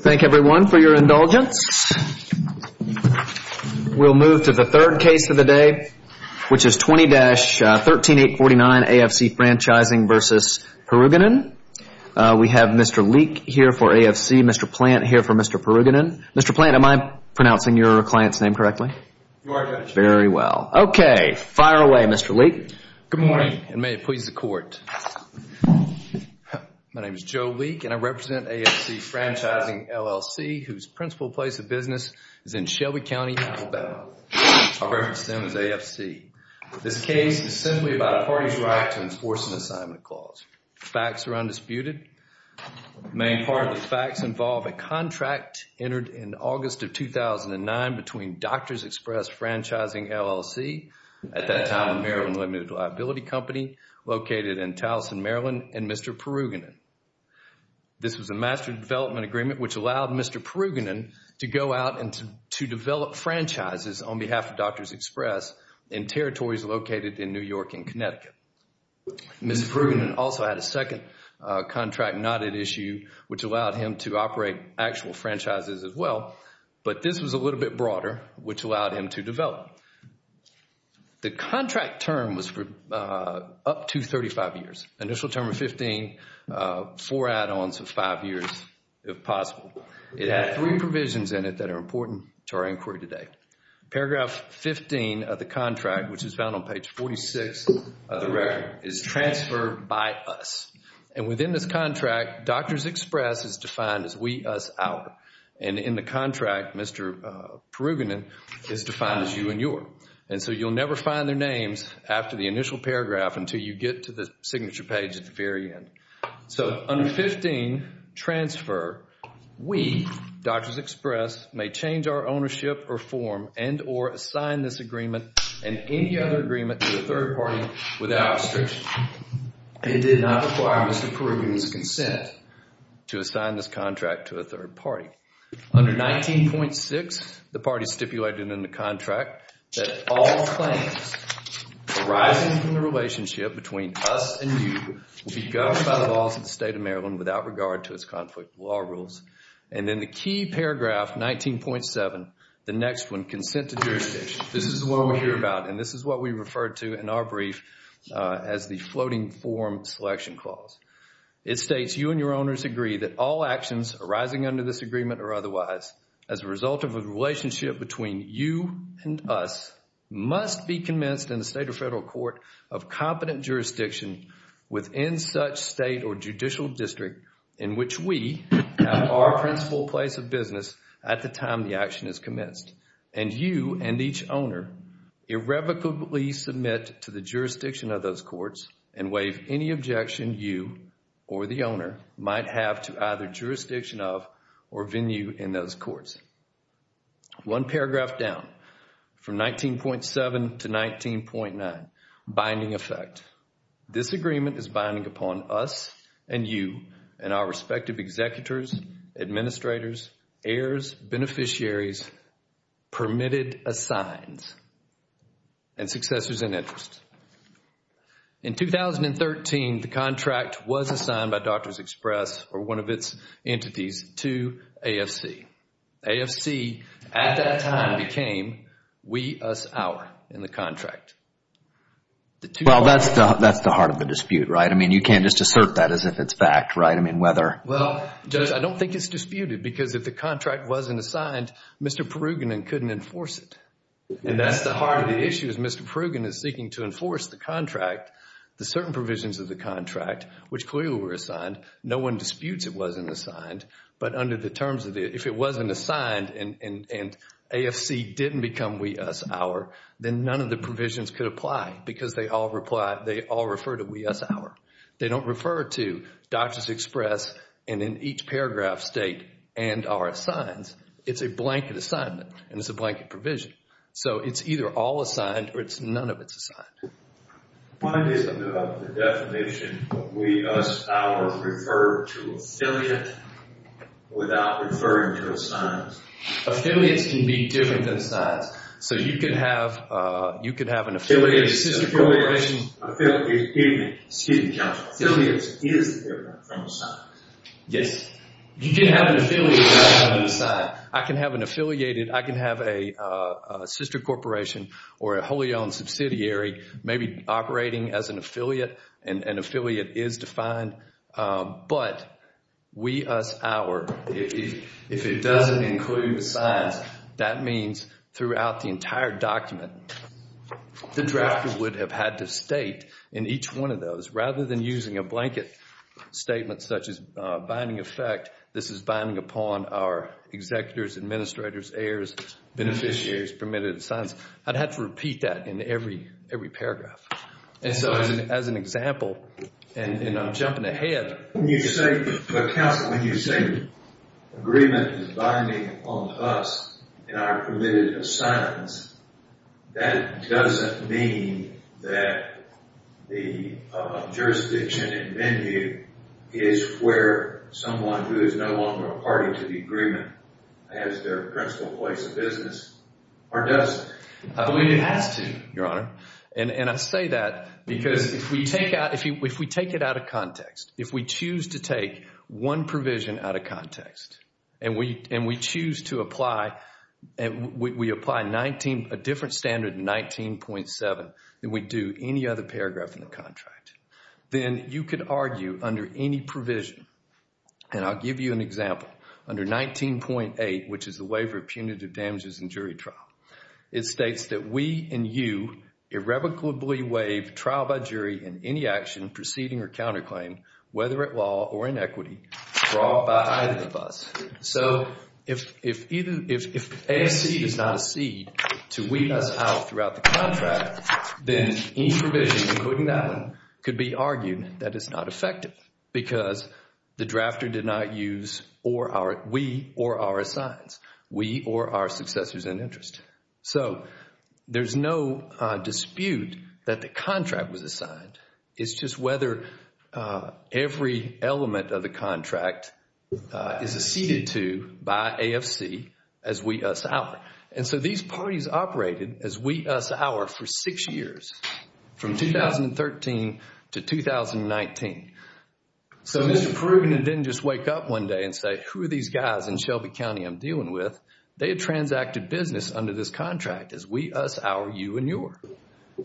Thank everyone for your indulgence. We'll move to the third case of the day, which is 20-13849 AFC Franchising v. Purugganan. We have Mr. Leek here for AFC, Mr. Plant here for Mr. Purugganan. Mr. Plant, am I pronouncing your client's name correctly? You are, Judge. Very well. Okay, fire away, Mr. Leek. Good morning, and may it please the Court. My name is Joe Leek, and I represent AFC Franchising, LLC, whose principal place of business is in Shelby County, Alabama. I'll reference them as AFC. This case is simply about a party's right to enforce an assignment clause. Facts are undisputed. The main part of the facts involve a contract entered in August of 2009 between Doctors Express Franchising, LLC, at that time the Maryland Limited Liability Company, located in Towson, Maryland, and Mr. Purugganan. This was a master development agreement which allowed Mr. Purugganan to go out and to develop franchises on behalf of Doctors Express in territories located in New York and Connecticut. Mr. Purugganan also had a second contract not at issue, which allowed him to operate actual franchises as well, but this was a little bit broader, which allowed him to develop. The contract term was up to 35 years. Initial term of 15, four add-ons of five years, if possible. It had three provisions in it that are important to our inquiry today. Paragraph 15 of the contract, which is found on page 46 of the record, is transfer by us. And within this contract, Doctors Express is defined as we, us, our. And in the contract, Mr. Purugganan is defined as you and your. And so you'll never find their names after the initial paragraph until you get to the signature page at the very end. So under 15, transfer, we, Doctors Express, may change our ownership or form and or assign this agreement and any other agreement to a third party without restriction. It did not require Mr. Purugganan's consent to assign this contract to a third party. Under 19.6, the party stipulated in the contract that all claims arising from the relationship between us and you will be governed by the laws of the state of Maryland without regard to its conflict law rules. And then the key paragraph, 19.7, the next one, consent to jurisdiction. This is the one we hear about, and this is what we refer to in our brief as the floating form selection clause. It states you and your owners agree that all actions arising under this agreement or otherwise as a result of a relationship between you and us must be commenced in the state or federal court of competent jurisdiction within such state or judicial district in which we have our principal place of business at the time the action is commenced. And you and each owner irrevocably submit to the jurisdiction of those courts and waive any objection you or the owner might have to either jurisdiction of or venue in those courts. One paragraph down from 19.7 to 19.9, binding effect. This agreement is binding upon us and you and our respective executors, administrators, heirs, beneficiaries, permitted assigns, and successors in interest. In 2013, the contract was assigned by Doctors Express or one of its entities to AFC. AFC at that time became we, us, our in the contract. Well, that's the heart of the dispute, right? I mean, you can't just assert that as if it's fact, right? Well, Judge, I don't think it's disputed because if the contract wasn't assigned, Mr. Perugin couldn't enforce it. And that's the heart of the issue is Mr. Perugin is seeking to enforce the contract, the certain provisions of the contract, which clearly were assigned. No one disputes it wasn't assigned, but under the terms of it, if it wasn't assigned and AFC didn't become we, us, our, then none of the provisions could apply because they all refer to we, us, our. They don't refer to Doctors Express and in each paragraph state and our assigns. It's a blanket assignment and it's a blanket provision. So it's either all assigned or it's none of it's assigned. One is the definition of we, us, our referred to affiliate without referring to assigns. Affiliates can be different than assigns. So you could have an affiliate... Excuse me, Judge. Affiliates is different from assigns. Yes. You can have an affiliate without an assign. I can have an affiliated, I can have a sister corporation or a wholly owned subsidiary maybe operating as an affiliate and affiliate is defined. But we, us, our, if it doesn't include assigns, that means throughout the entire document, the drafter would have had to state in each one of those rather than using a blanket statement such as binding effect, this is binding upon our executors, administrators, heirs, beneficiaries, permitted assigns. I'd have to repeat that in every paragraph. And so as an example, and I'm jumping ahead. When you say, Counsel, when you say agreement is binding upon us and our permitted assigns, that doesn't mean that the jurisdiction in venue is where someone who is no longer a party to the agreement has their principal place of business or doesn't. It has to, Your Honor. And I say that because if we take it out of context, if we choose to take one provision out of context and we choose to apply, we apply a different standard in 19.7 than we do any other paragraph in the contract, then you could argue under any provision, and I'll give you an example, under 19.8, which is the waiver of punitive damages in jury trial, it states that we and you irrevocably waive trial by jury in any action, proceeding or counterclaim, whether at law or in equity, brought by either of us. So if a seed is not a seed to weed us out throughout the contract, then any provision, including that one, could be argued that it's not effective because the drafter did not use we or our assigns, we or our successors in interest. So there's no dispute that the contract was assigned. It's just whether every element of the contract is acceded to by AFC as we, us, our. And so these parties operated as we, us, our for six years, from 2013 to 2019. So Mr. Perugin didn't just wake up one day and say, who are these guys in Shelby County I'm dealing with? They had transacted business under this contract as we, us, our, you, and your.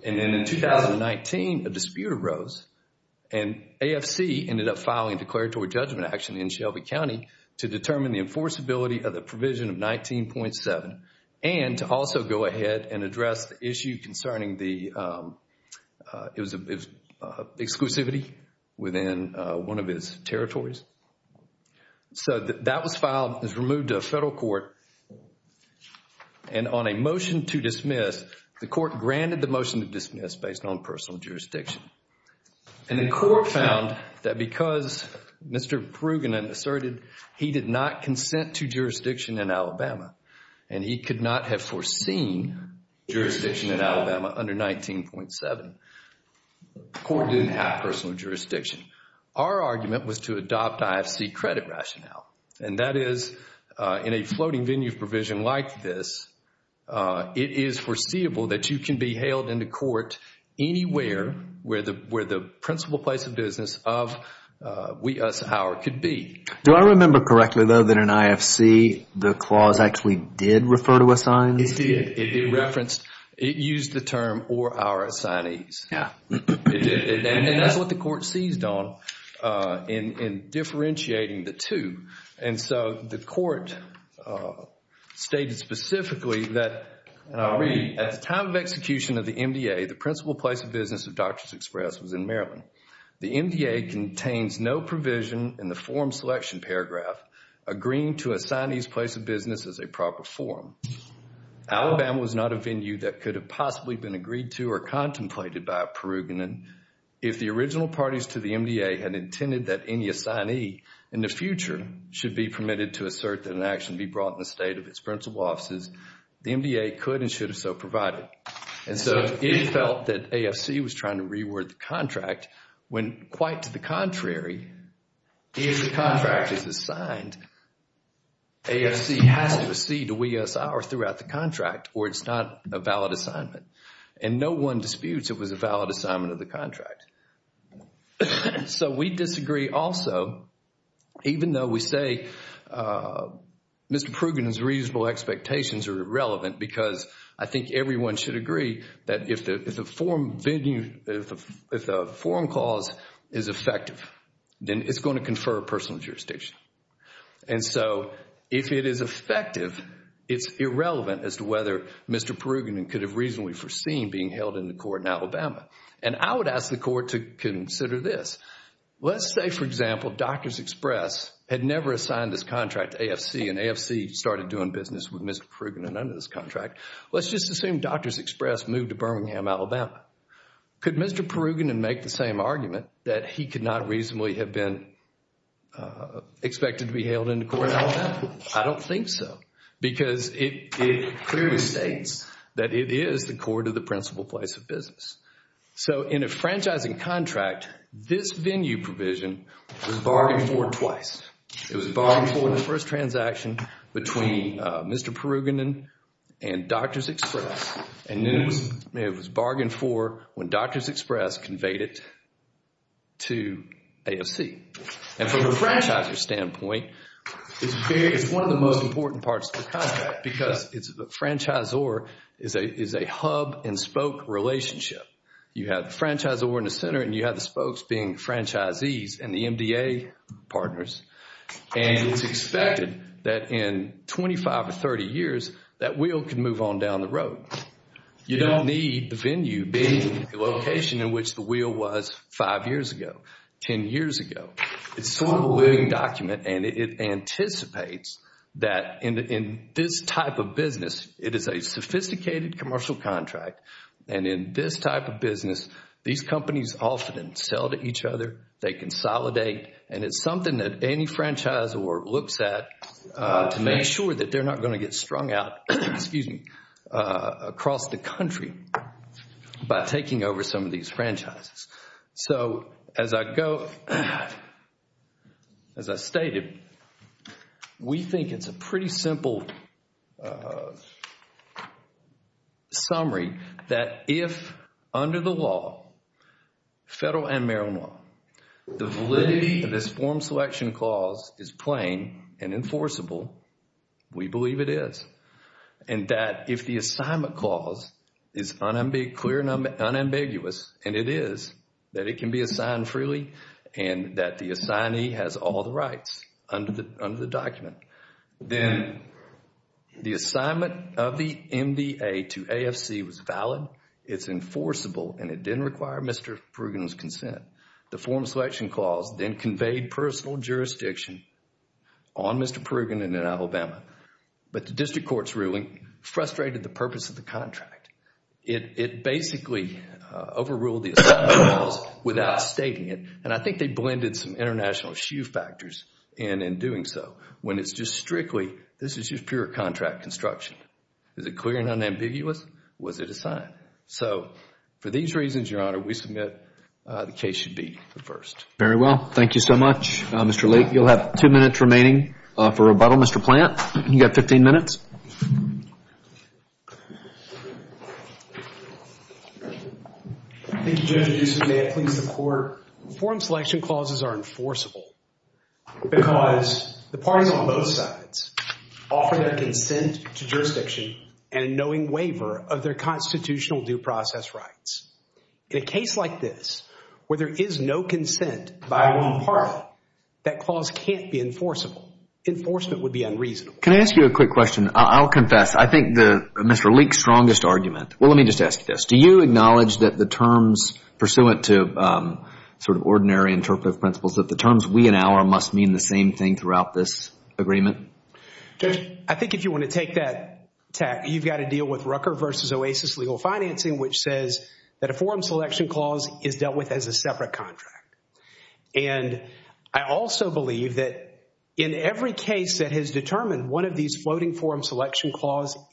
And then in 2019, a dispute arose, and AFC ended up filing declaratory judgment action in Shelby County to determine the enforceability of the provision of 19.7 and to also go ahead and address the issue concerning the exclusivity within one of its territories. So that was filed, was removed to a federal court, and on a motion to dismiss, the court granted the motion to dismiss based on personal jurisdiction. And the court found that because Mr. Perugin asserted he did not consent to jurisdiction in Alabama, and he could not have foreseen jurisdiction in Alabama under 19.7, the court didn't have personal jurisdiction. Our argument was to adopt IFC credit rationale, and that is in a floating venue provision like this, it is foreseeable that you can be hailed into court anywhere where the principal place of business of we, us, our could be. Do I remember correctly though that in IFC, the clause actually did refer to assignees? It did. It referenced, it used the term or our assignees. And that's what the court seized on in differentiating the two. And so the court stated specifically that, and I'll read, at the time of execution of the MDA, the principal place of business of Doctors Express was in Maryland. The MDA contains no provision in the form selection paragraph agreeing to assign these place of business as a proper form. Alabama was not a venue that could have possibly been agreed to or contemplated by a Peruginan. If the original parties to the MDA had intended that any assignee in the future should be permitted to assert that an action be brought in the state of its principal offices, the MDA could and should have so provided. And so it felt that AFC was trying to reword the contract when quite to the contrary, if the contract is assigned, AFC has to accede to we, us, our throughout the contract or it's not a valid assignment. And no one disputes it was a valid assignment of the contract. So we disagree also, even though we say Mr. Peruginan's reasonable expectations are irrelevant because I think everyone should agree that if the form venue, if the form clause is effective, then it's going to confer personal jurisdiction. And so if it is effective, it's irrelevant as to whether Mr. Peruginan could have reasonably foreseen being held in the court in Alabama. And I would ask the court to consider this. Let's say, for example, Doctors Express had never assigned this contract to AFC and AFC started doing business with Mr. Peruginan under this contract. Let's just assume Doctors Express moved to Birmingham, Alabama. Could Mr. Peruginan make the same argument that he could not reasonably have been expected to be held in the court in Alabama? I don't think so. Because it clearly states that it is the court of the principal place of business. So in a franchising contract, this venue provision was bargained for twice. It was bargained for in the first transaction between Mr. Peruginan and Doctors Express and then it was bargained for when Doctors Express conveyed it to AFC. And from a franchisor standpoint, it's one of the most important parts of the contract because the franchisor is a hub and spoke relationship. You have the franchisor in the center and you have the spokes being franchisees and the MDA partners. And it's expected that in 25 or 30 years, that wheel can move on down the road. You don't need the venue being the location in which the wheel was five years ago, 10 years ago. It's sort of a living document and it anticipates that in this type of business, it is a sophisticated commercial contract. And in this type of business, these companies often sell to each other, they consolidate, and it's something that any franchisor looks at to make sure that they're not going to get strung out across the country by taking over some of these franchises. So as I stated, we think it's a pretty simple summary that if under the law, federal and Maryland law, the validity of this form selection clause is plain and enforceable, we believe it is. And that if the assignment clause is clear and unambiguous, and it is, that it can be assigned freely and that the assignee has all the rights under the document. Then the assignment of the MDA to AFC was valid, it's enforceable, and it didn't require Mr. Perugin's consent. The form selection clause then conveyed personal jurisdiction on Mr. Perugin and in Alabama. But the district court's ruling frustrated the purpose of the contract. It basically overruled the assignment clause without stating it. And I think they blended some international issue factors in in doing so. When it's just strictly, this is just pure contract construction. Is it clear and unambiguous? Was it assigned? So for these reasons, Your Honor, we submit the case should be reversed. Very well. Thank you so much, Mr. Lake. You'll have two minutes remaining for rebuttal. Mr. Plant, you've got 15 minutes. Thank you, Judge Aduso. May it please the Court. Form selection clauses are enforceable because the parties on both sides offer their consent to jurisdiction and a knowing waiver of their constitutional due process rights. In a case like this where there is no consent by one party, that clause can't be enforceable. Enforcement would be unreasonable. Can I ask you a quick question? I'll confess. I think Mr. Lake's strongest argument. Well, let me just ask you this. Do you acknowledge that the terms pursuant to sort of ordinary interpretive principles, that the terms we and our must mean the same thing throughout this agreement? I think if you want to take that tack, you've got to deal with Rucker v. Oasis Legal Financing, which says that a form selection clause is dealt with as a separate contract. And I also believe that in every case that has determined one of these floating form selection clauses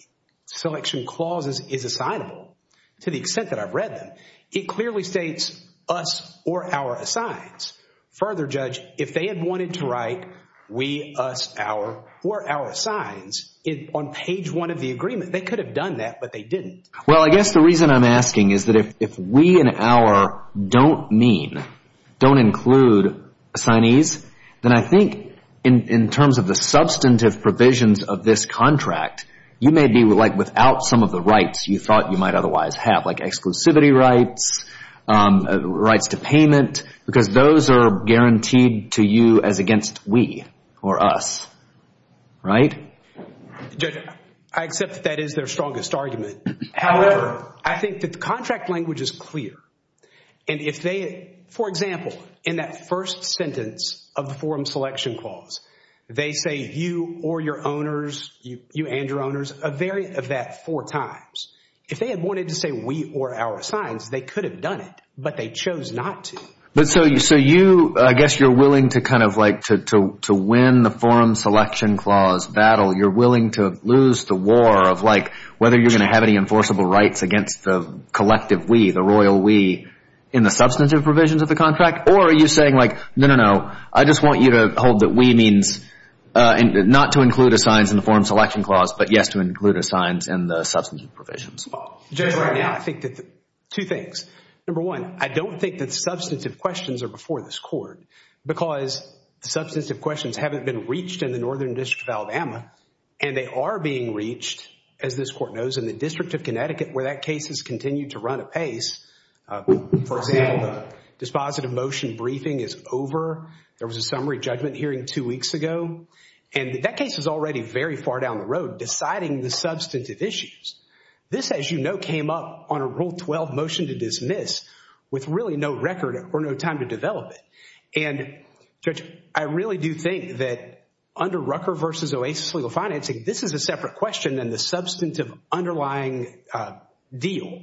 is assignable, to the extent that I've read them, it clearly states us or our assigns. Further, Judge, if they had wanted to write we, us, our, or our assigns on page one of the agreement, they could have done that, but they didn't. Well, I guess the reason I'm asking is that if we and our don't mean, don't include assignees, then I think in terms of the substantive provisions of this contract, you may be like without some of the rights you thought you might otherwise have, like exclusivity rights, rights to payment, because those are guaranteed to you as against we or us, right? Judge, I accept that that is their strongest argument. However, I think that the contract language is clear. And if they, for example, in that first sentence of the form selection clause, they say you or your owners, you and your owners, a variant of that four times. If they had wanted to say we or our assigns, they could have done it, but they chose not to. But so you, I guess you're willing to kind of like, to win the form selection clause battle, you're willing to lose the war of like whether you're going to have any enforceable rights against the collective we, the royal we, in the substantive provisions of the contract? Or are you saying like, no, no, no, I just want you to hold that we means not to include assigns in the form selection clause, but yes to include assigns in the substantive provisions? Judge, right now I think that two things. Number one, I don't think that substantive questions are before this court because the substantive questions haven't been reached in the Northern District of Alabama. And they are being reached, as this court knows, in the District of Connecticut where that case has continued to run apace. For example, the dispositive motion briefing is over. There was a summary judgment hearing two weeks ago. And that case is already very far down the road, deciding the substantive issues. This, as you know, came up on a Rule 12 motion to dismiss with really no record or no time to develop it. And, Judge, I really do think that under Rucker v. Oasis Legal Financing, this is a separate question than the substantive underlying deal.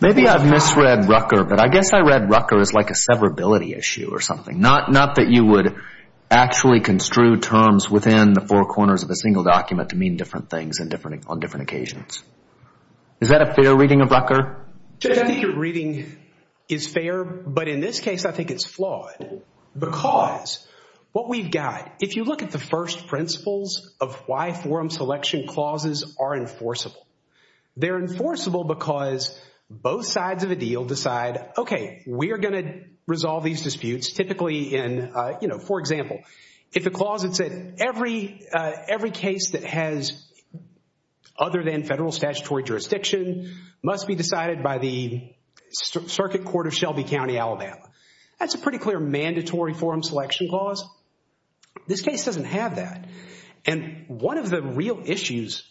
Maybe I've misread Rucker, but I guess I read Rucker as like a severability issue or something, not that you would actually construe terms within the four corners of a single document to mean different things on different occasions. Is that a fair reading of Rucker? Judge, I think your reading is fair. But in this case, I think it's flawed because what we've got, if you look at the first principles of why forum selection clauses are enforceable, they're enforceable because both sides of a deal decide, okay, we are going to resolve these disputes typically in, you know, for example, if the clause had said every case that has other than federal statutory jurisdiction must be decided by the circuit court of Shelby County, Alabama. That's a pretty clear mandatory forum selection clause. This case doesn't have that. And one of the real issues,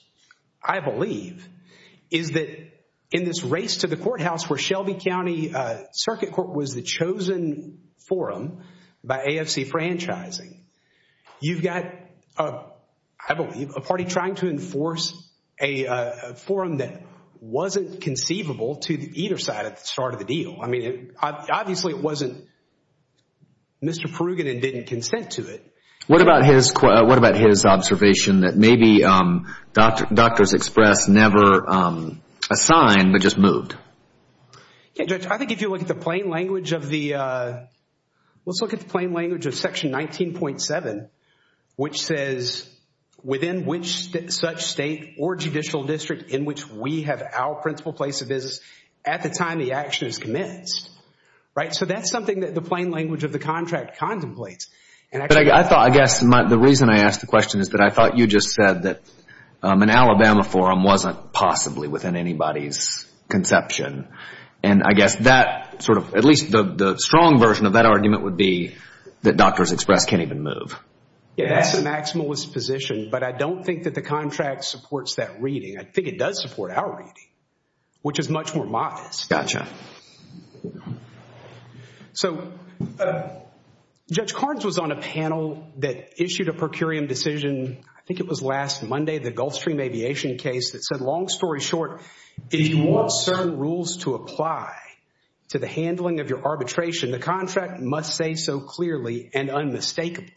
I believe, is that in this race to the courthouse where Shelby County Circuit Court was the chosen forum by AFC franchising, you've got, I believe, a party trying to enforce a forum that wasn't conceivable to either side at the start of the deal. I mean, obviously, it wasn't Mr. Perugin that didn't consent to it. What about his observation that maybe Doctors Express never assigned but just moved? Yeah, Judge, I think if you look at the plain language of the section 19.7, which says within which such state or judicial district in which we have our principal place of business at the time the action is commenced, right? So that's something that the plain language of the contract contemplates. But I thought, I guess, the reason I asked the question is that I thought you just said that an Alabama forum wasn't possibly within anybody's conception. And I guess that sort of, at least the strong version of that argument would be that Doctors Express can't even move. That's the maximalist position, but I don't think that the contract supports that reading. I think it does support our reading, which is much more modest. Gotcha. So Judge Carnes was on a panel that issued a per curiam decision, I think it was last Monday, the Gulfstream Aviation case that said, long story short, if you want certain rules to apply to the handling of your arbitration, the contract must say so clearly and unmistakably.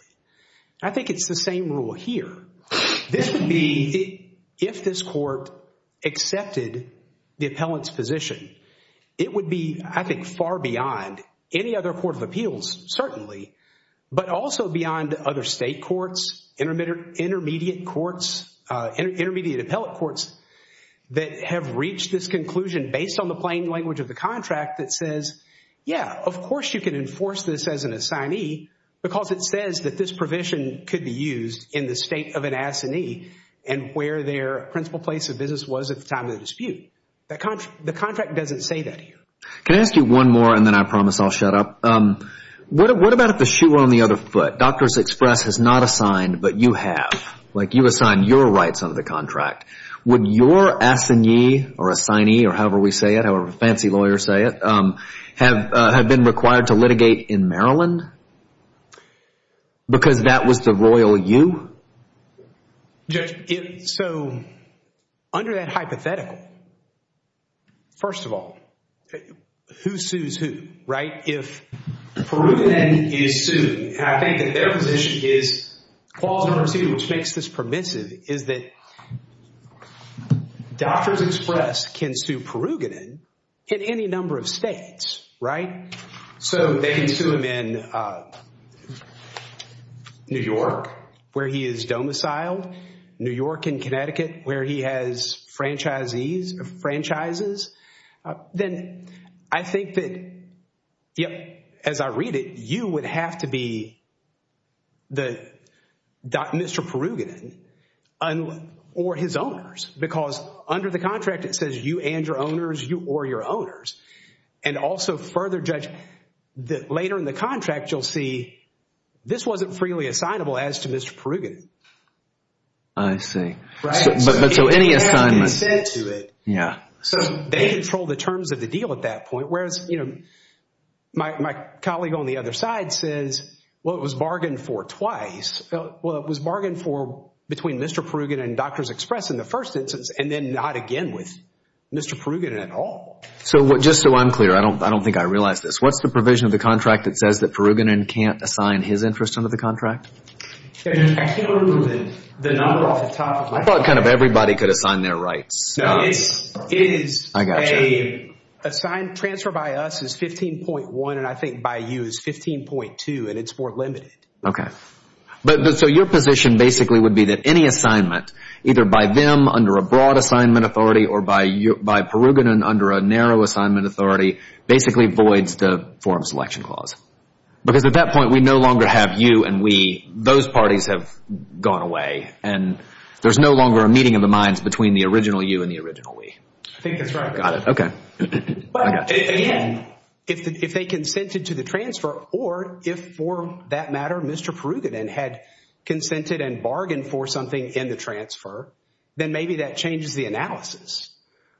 I think it's the same rule here. This would be if this court accepted the appellant's position. It would be, I think, far beyond any other court of appeals, certainly, but also beyond other state courts, intermediate courts, intermediate appellate courts that have reached this conclusion based on the plain language of the contract that says, yeah, of course you can enforce this as an assignee because it says that this provision could be used in the state of an assignee and where their principal place of business was at the time of the dispute. The contract doesn't say that here. Can I ask you one more and then I promise I'll shut up? What about if the shoe were on the other foot? Doctors Express has not assigned, but you have. Like, you assign your rights under the contract. Would your assignee or assignee or however we say it, however fancy lawyers say it, have been required to litigate in Maryland? Because that was the royal you? Judge, so under that hypothetical, first of all, who sues who, right? If Peruginan is sued, I think that their position is clause number two, which makes this permissive, is that Doctors Express can sue Peruginan in any number of states, right? So they can sue him in New York where he is domiciled, New York and Connecticut where he has franchisees or franchises. Then I think that, as I read it, you would have to be Mr. Peruginan or his owners because under the contract it says you and your owners, you or your owners. And also further, Judge, later in the contract you'll see this wasn't freely assignable as to Mr. Peruginan. I see. Right? But so any assignment? Yeah. So they control the terms of the deal at that point, whereas, you know, my colleague on the other side says, well, it was bargained for twice. Well, it was bargained for between Mr. Peruginan and Doctors Express in the first instance and then not again with Mr. Peruginan at all. So just so I'm clear, I don't think I realize this, what's the provision of the contract that says that Peruginan can't assign his interest under the contract? I can't remember the number off the top of my head. I thought kind of everybody could assign their rights. No, it is a transfer by us is 15.1 and I think by you is 15.2 and it's more limited. Okay. So your position basically would be that any assignment, either by them under a broad assignment authority or by Peruginan under a narrow assignment authority, basically voids the forum selection clause. Because at that point, we no longer have you and we. Those parties have gone away and there's no longer a meeting of the minds between the original you and the original we. I think that's right. Got it. Okay. But again, if they consented to the transfer or if, for that matter, Mr. Peruginan had consented and bargained for something in the transfer, then maybe that changes the analysis.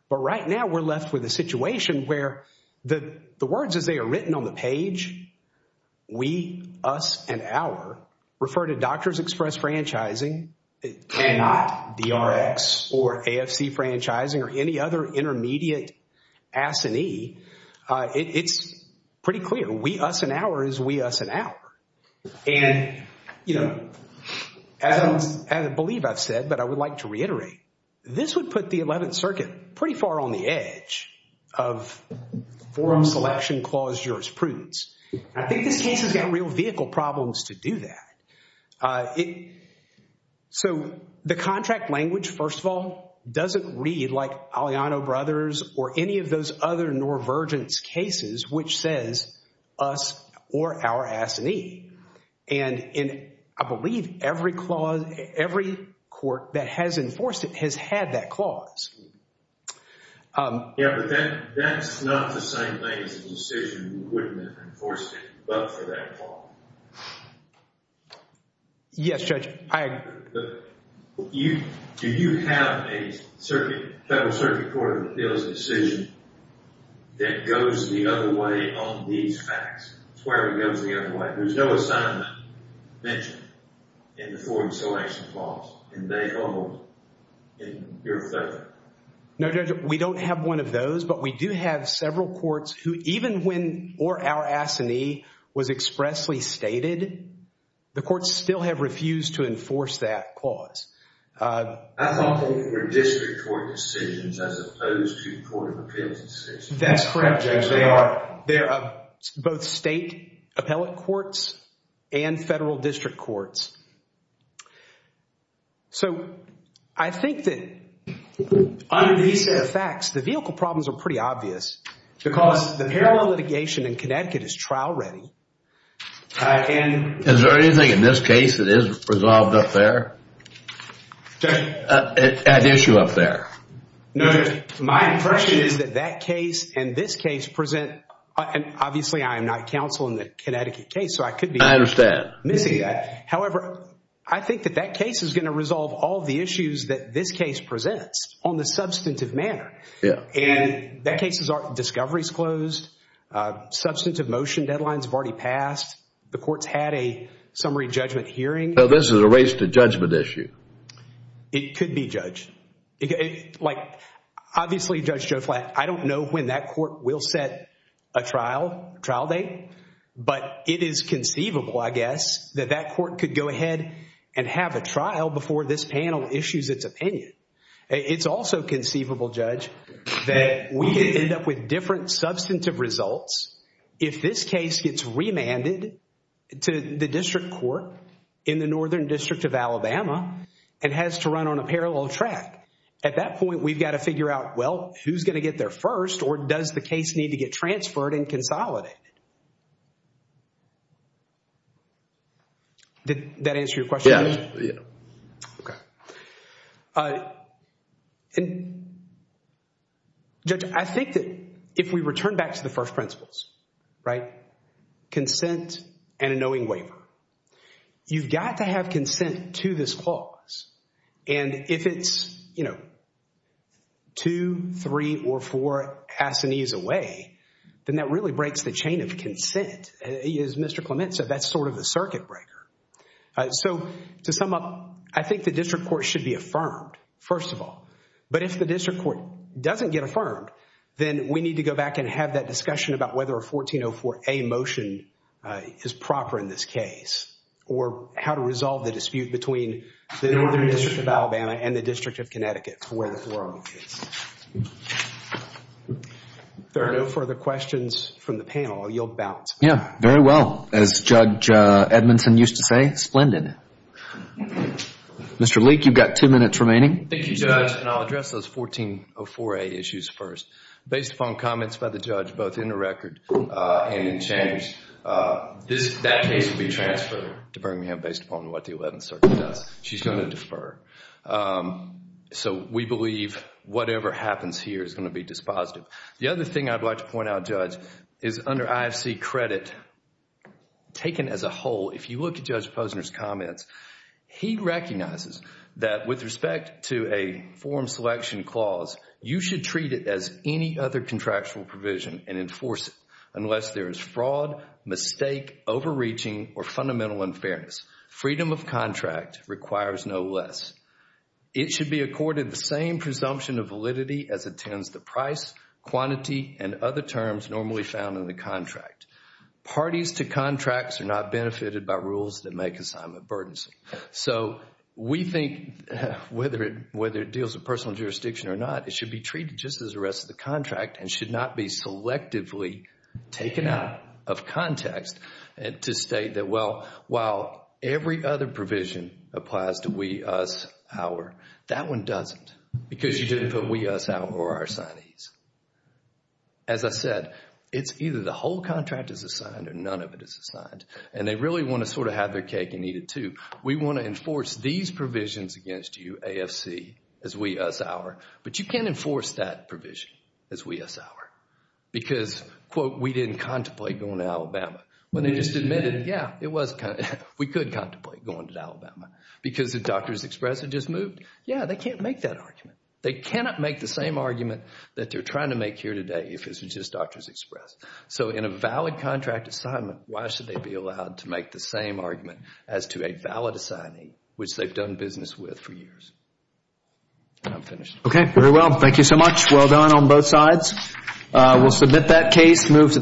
But right now, we're left with a situation where the words as they are written on the page, we, us, and our refer to Doctors Express Franchising and DRX or AFC Franchising or any other intermediate assignee. It's pretty clear. We, us, and our is we, us, and our. And, you know, as I believe I've said, but I would like to reiterate, this would put the 11th Circuit pretty far on the edge of forum selection clause jurisprudence. I think this case has got real vehicle problems to do that. So the contract language, first of all, doesn't read like Aliano Brothers or any of those other Norvergence cases which says us or our assignee. And I believe every clause, every court that has enforced it has had that clause. Yeah, but that's not the same thing as a decision wouldn't have enforced it but for that clause. Yes, Judge. I agree. Do you have a circuit, federal circuit court that deals in decision that goes the other way on these facts? It's where it goes the other way. There's no assignment mentioned in the forum selection clause and they hold in your favor. No, Judge. We don't have one of those but we do have several courts who even when or our assignee was expressly stated, the courts still have refused to enforce that clause. I thought they were district court decisions as opposed to court of appellate decisions. That's correct, Judge. They are. They're both state appellate courts and federal district courts. So I think that under these facts, the vehicle problems are pretty obvious because the parallel litigation in Connecticut is trial ready and- Is there anything in this case that is resolved up there? Judge- At issue up there? No, Judge. My impression is that that case and this case present and obviously I am not counsel in the Connecticut case so I could be- I understand. Missing that. However, I think that that case is going to resolve all the issues that this case presents on the substantive manner. Yeah. And that case's discovery is closed. Substantive motion deadlines have already passed. The court's had a summary judgment hearing. So this is a race to judgment issue? It could be, Judge. Obviously, Judge Joe Flatt, I don't know when that court will set a trial date but it is conceivable, I guess, that that court could go ahead and have a trial before this panel issues its opinion. It's also conceivable, Judge, that we could end up with different substantive results if this case gets remanded to the district court in the Northern District of Alabama and has to run on a parallel track. At that point, we've got to figure out, well, who's going to get there first or does the case need to get transferred and consolidated? Did that answer your question? Yeah. Okay. And, Judge, I think that if we return back to the first principles, right, consent and a knowing waiver, you've got to have consent to this clause. And if it's, you know, two, three, or four assinees away, then that really breaks the chain of consent. As Mr. Clement said, that's sort of the circuit breaker. So to sum up, I think the district court should be affirmed, first of all. But if the district court doesn't get affirmed, then we need to go back and have that discussion about whether a 1404A motion is proper in this case or how to resolve the dispute between the Northern District of Alabama and the District of Connecticut for where the forum is. If there are no further questions from the panel, I'll yield the balance. Yeah, very well. As Judge Edmondson used to say, splendid. Mr. Leek, you've got two minutes remaining. Thank you, Judge. And I'll address those 1404A issues first. Based upon comments by the judge, both in the record and in change, that case will be transferred to Birmingham based upon what the 11th Circuit does. She's going to defer. So we believe whatever happens here is going to be dispositive. The other thing I'd like to point out, Judge, is under IFC credit, taken as a whole, if you look at Judge Posner's comments, he recognizes that with respect to a forum selection clause, you should treat it as any other contractual provision and enforce it unless there is fraud, mistake, overreaching, or fundamental unfairness. Freedom of contract requires no less. It should be accorded the same presumption of validity as attends the price, quantity, and other terms normally found in the contract. Parties to contracts are not benefited by rules that make assignment burdensome. So we think whether it deals with personal jurisdiction or not, it should be treated just as the rest of the contract and should not be selectively taken out of context to state that, well, while every other provision applies to we, us, our, that one doesn't because you didn't put we, us, our or our signees. As I said, it's either the whole contract is assigned or none of it is assigned. And they really want to sort of have their cake and eat it too. We want to enforce these provisions against you, AFC, as we, us, our, but you can't enforce that provision as we, us, our because, quote, we didn't contemplate going to Alabama. When they just admitted, yeah, it was contemplated. We could contemplate going to Alabama because if Doctors Express had just moved, yeah, they can't make that argument. They cannot make the same argument that they're trying to make here today if it was just Doctors Express. So in a valid contract assignment, why should they be allowed to make the same argument as to a valid assignee which they've done business with for years? And I'm finished. Okay, very well. Thank you so much. Well done on both sides. We'll submit that case, move to the next.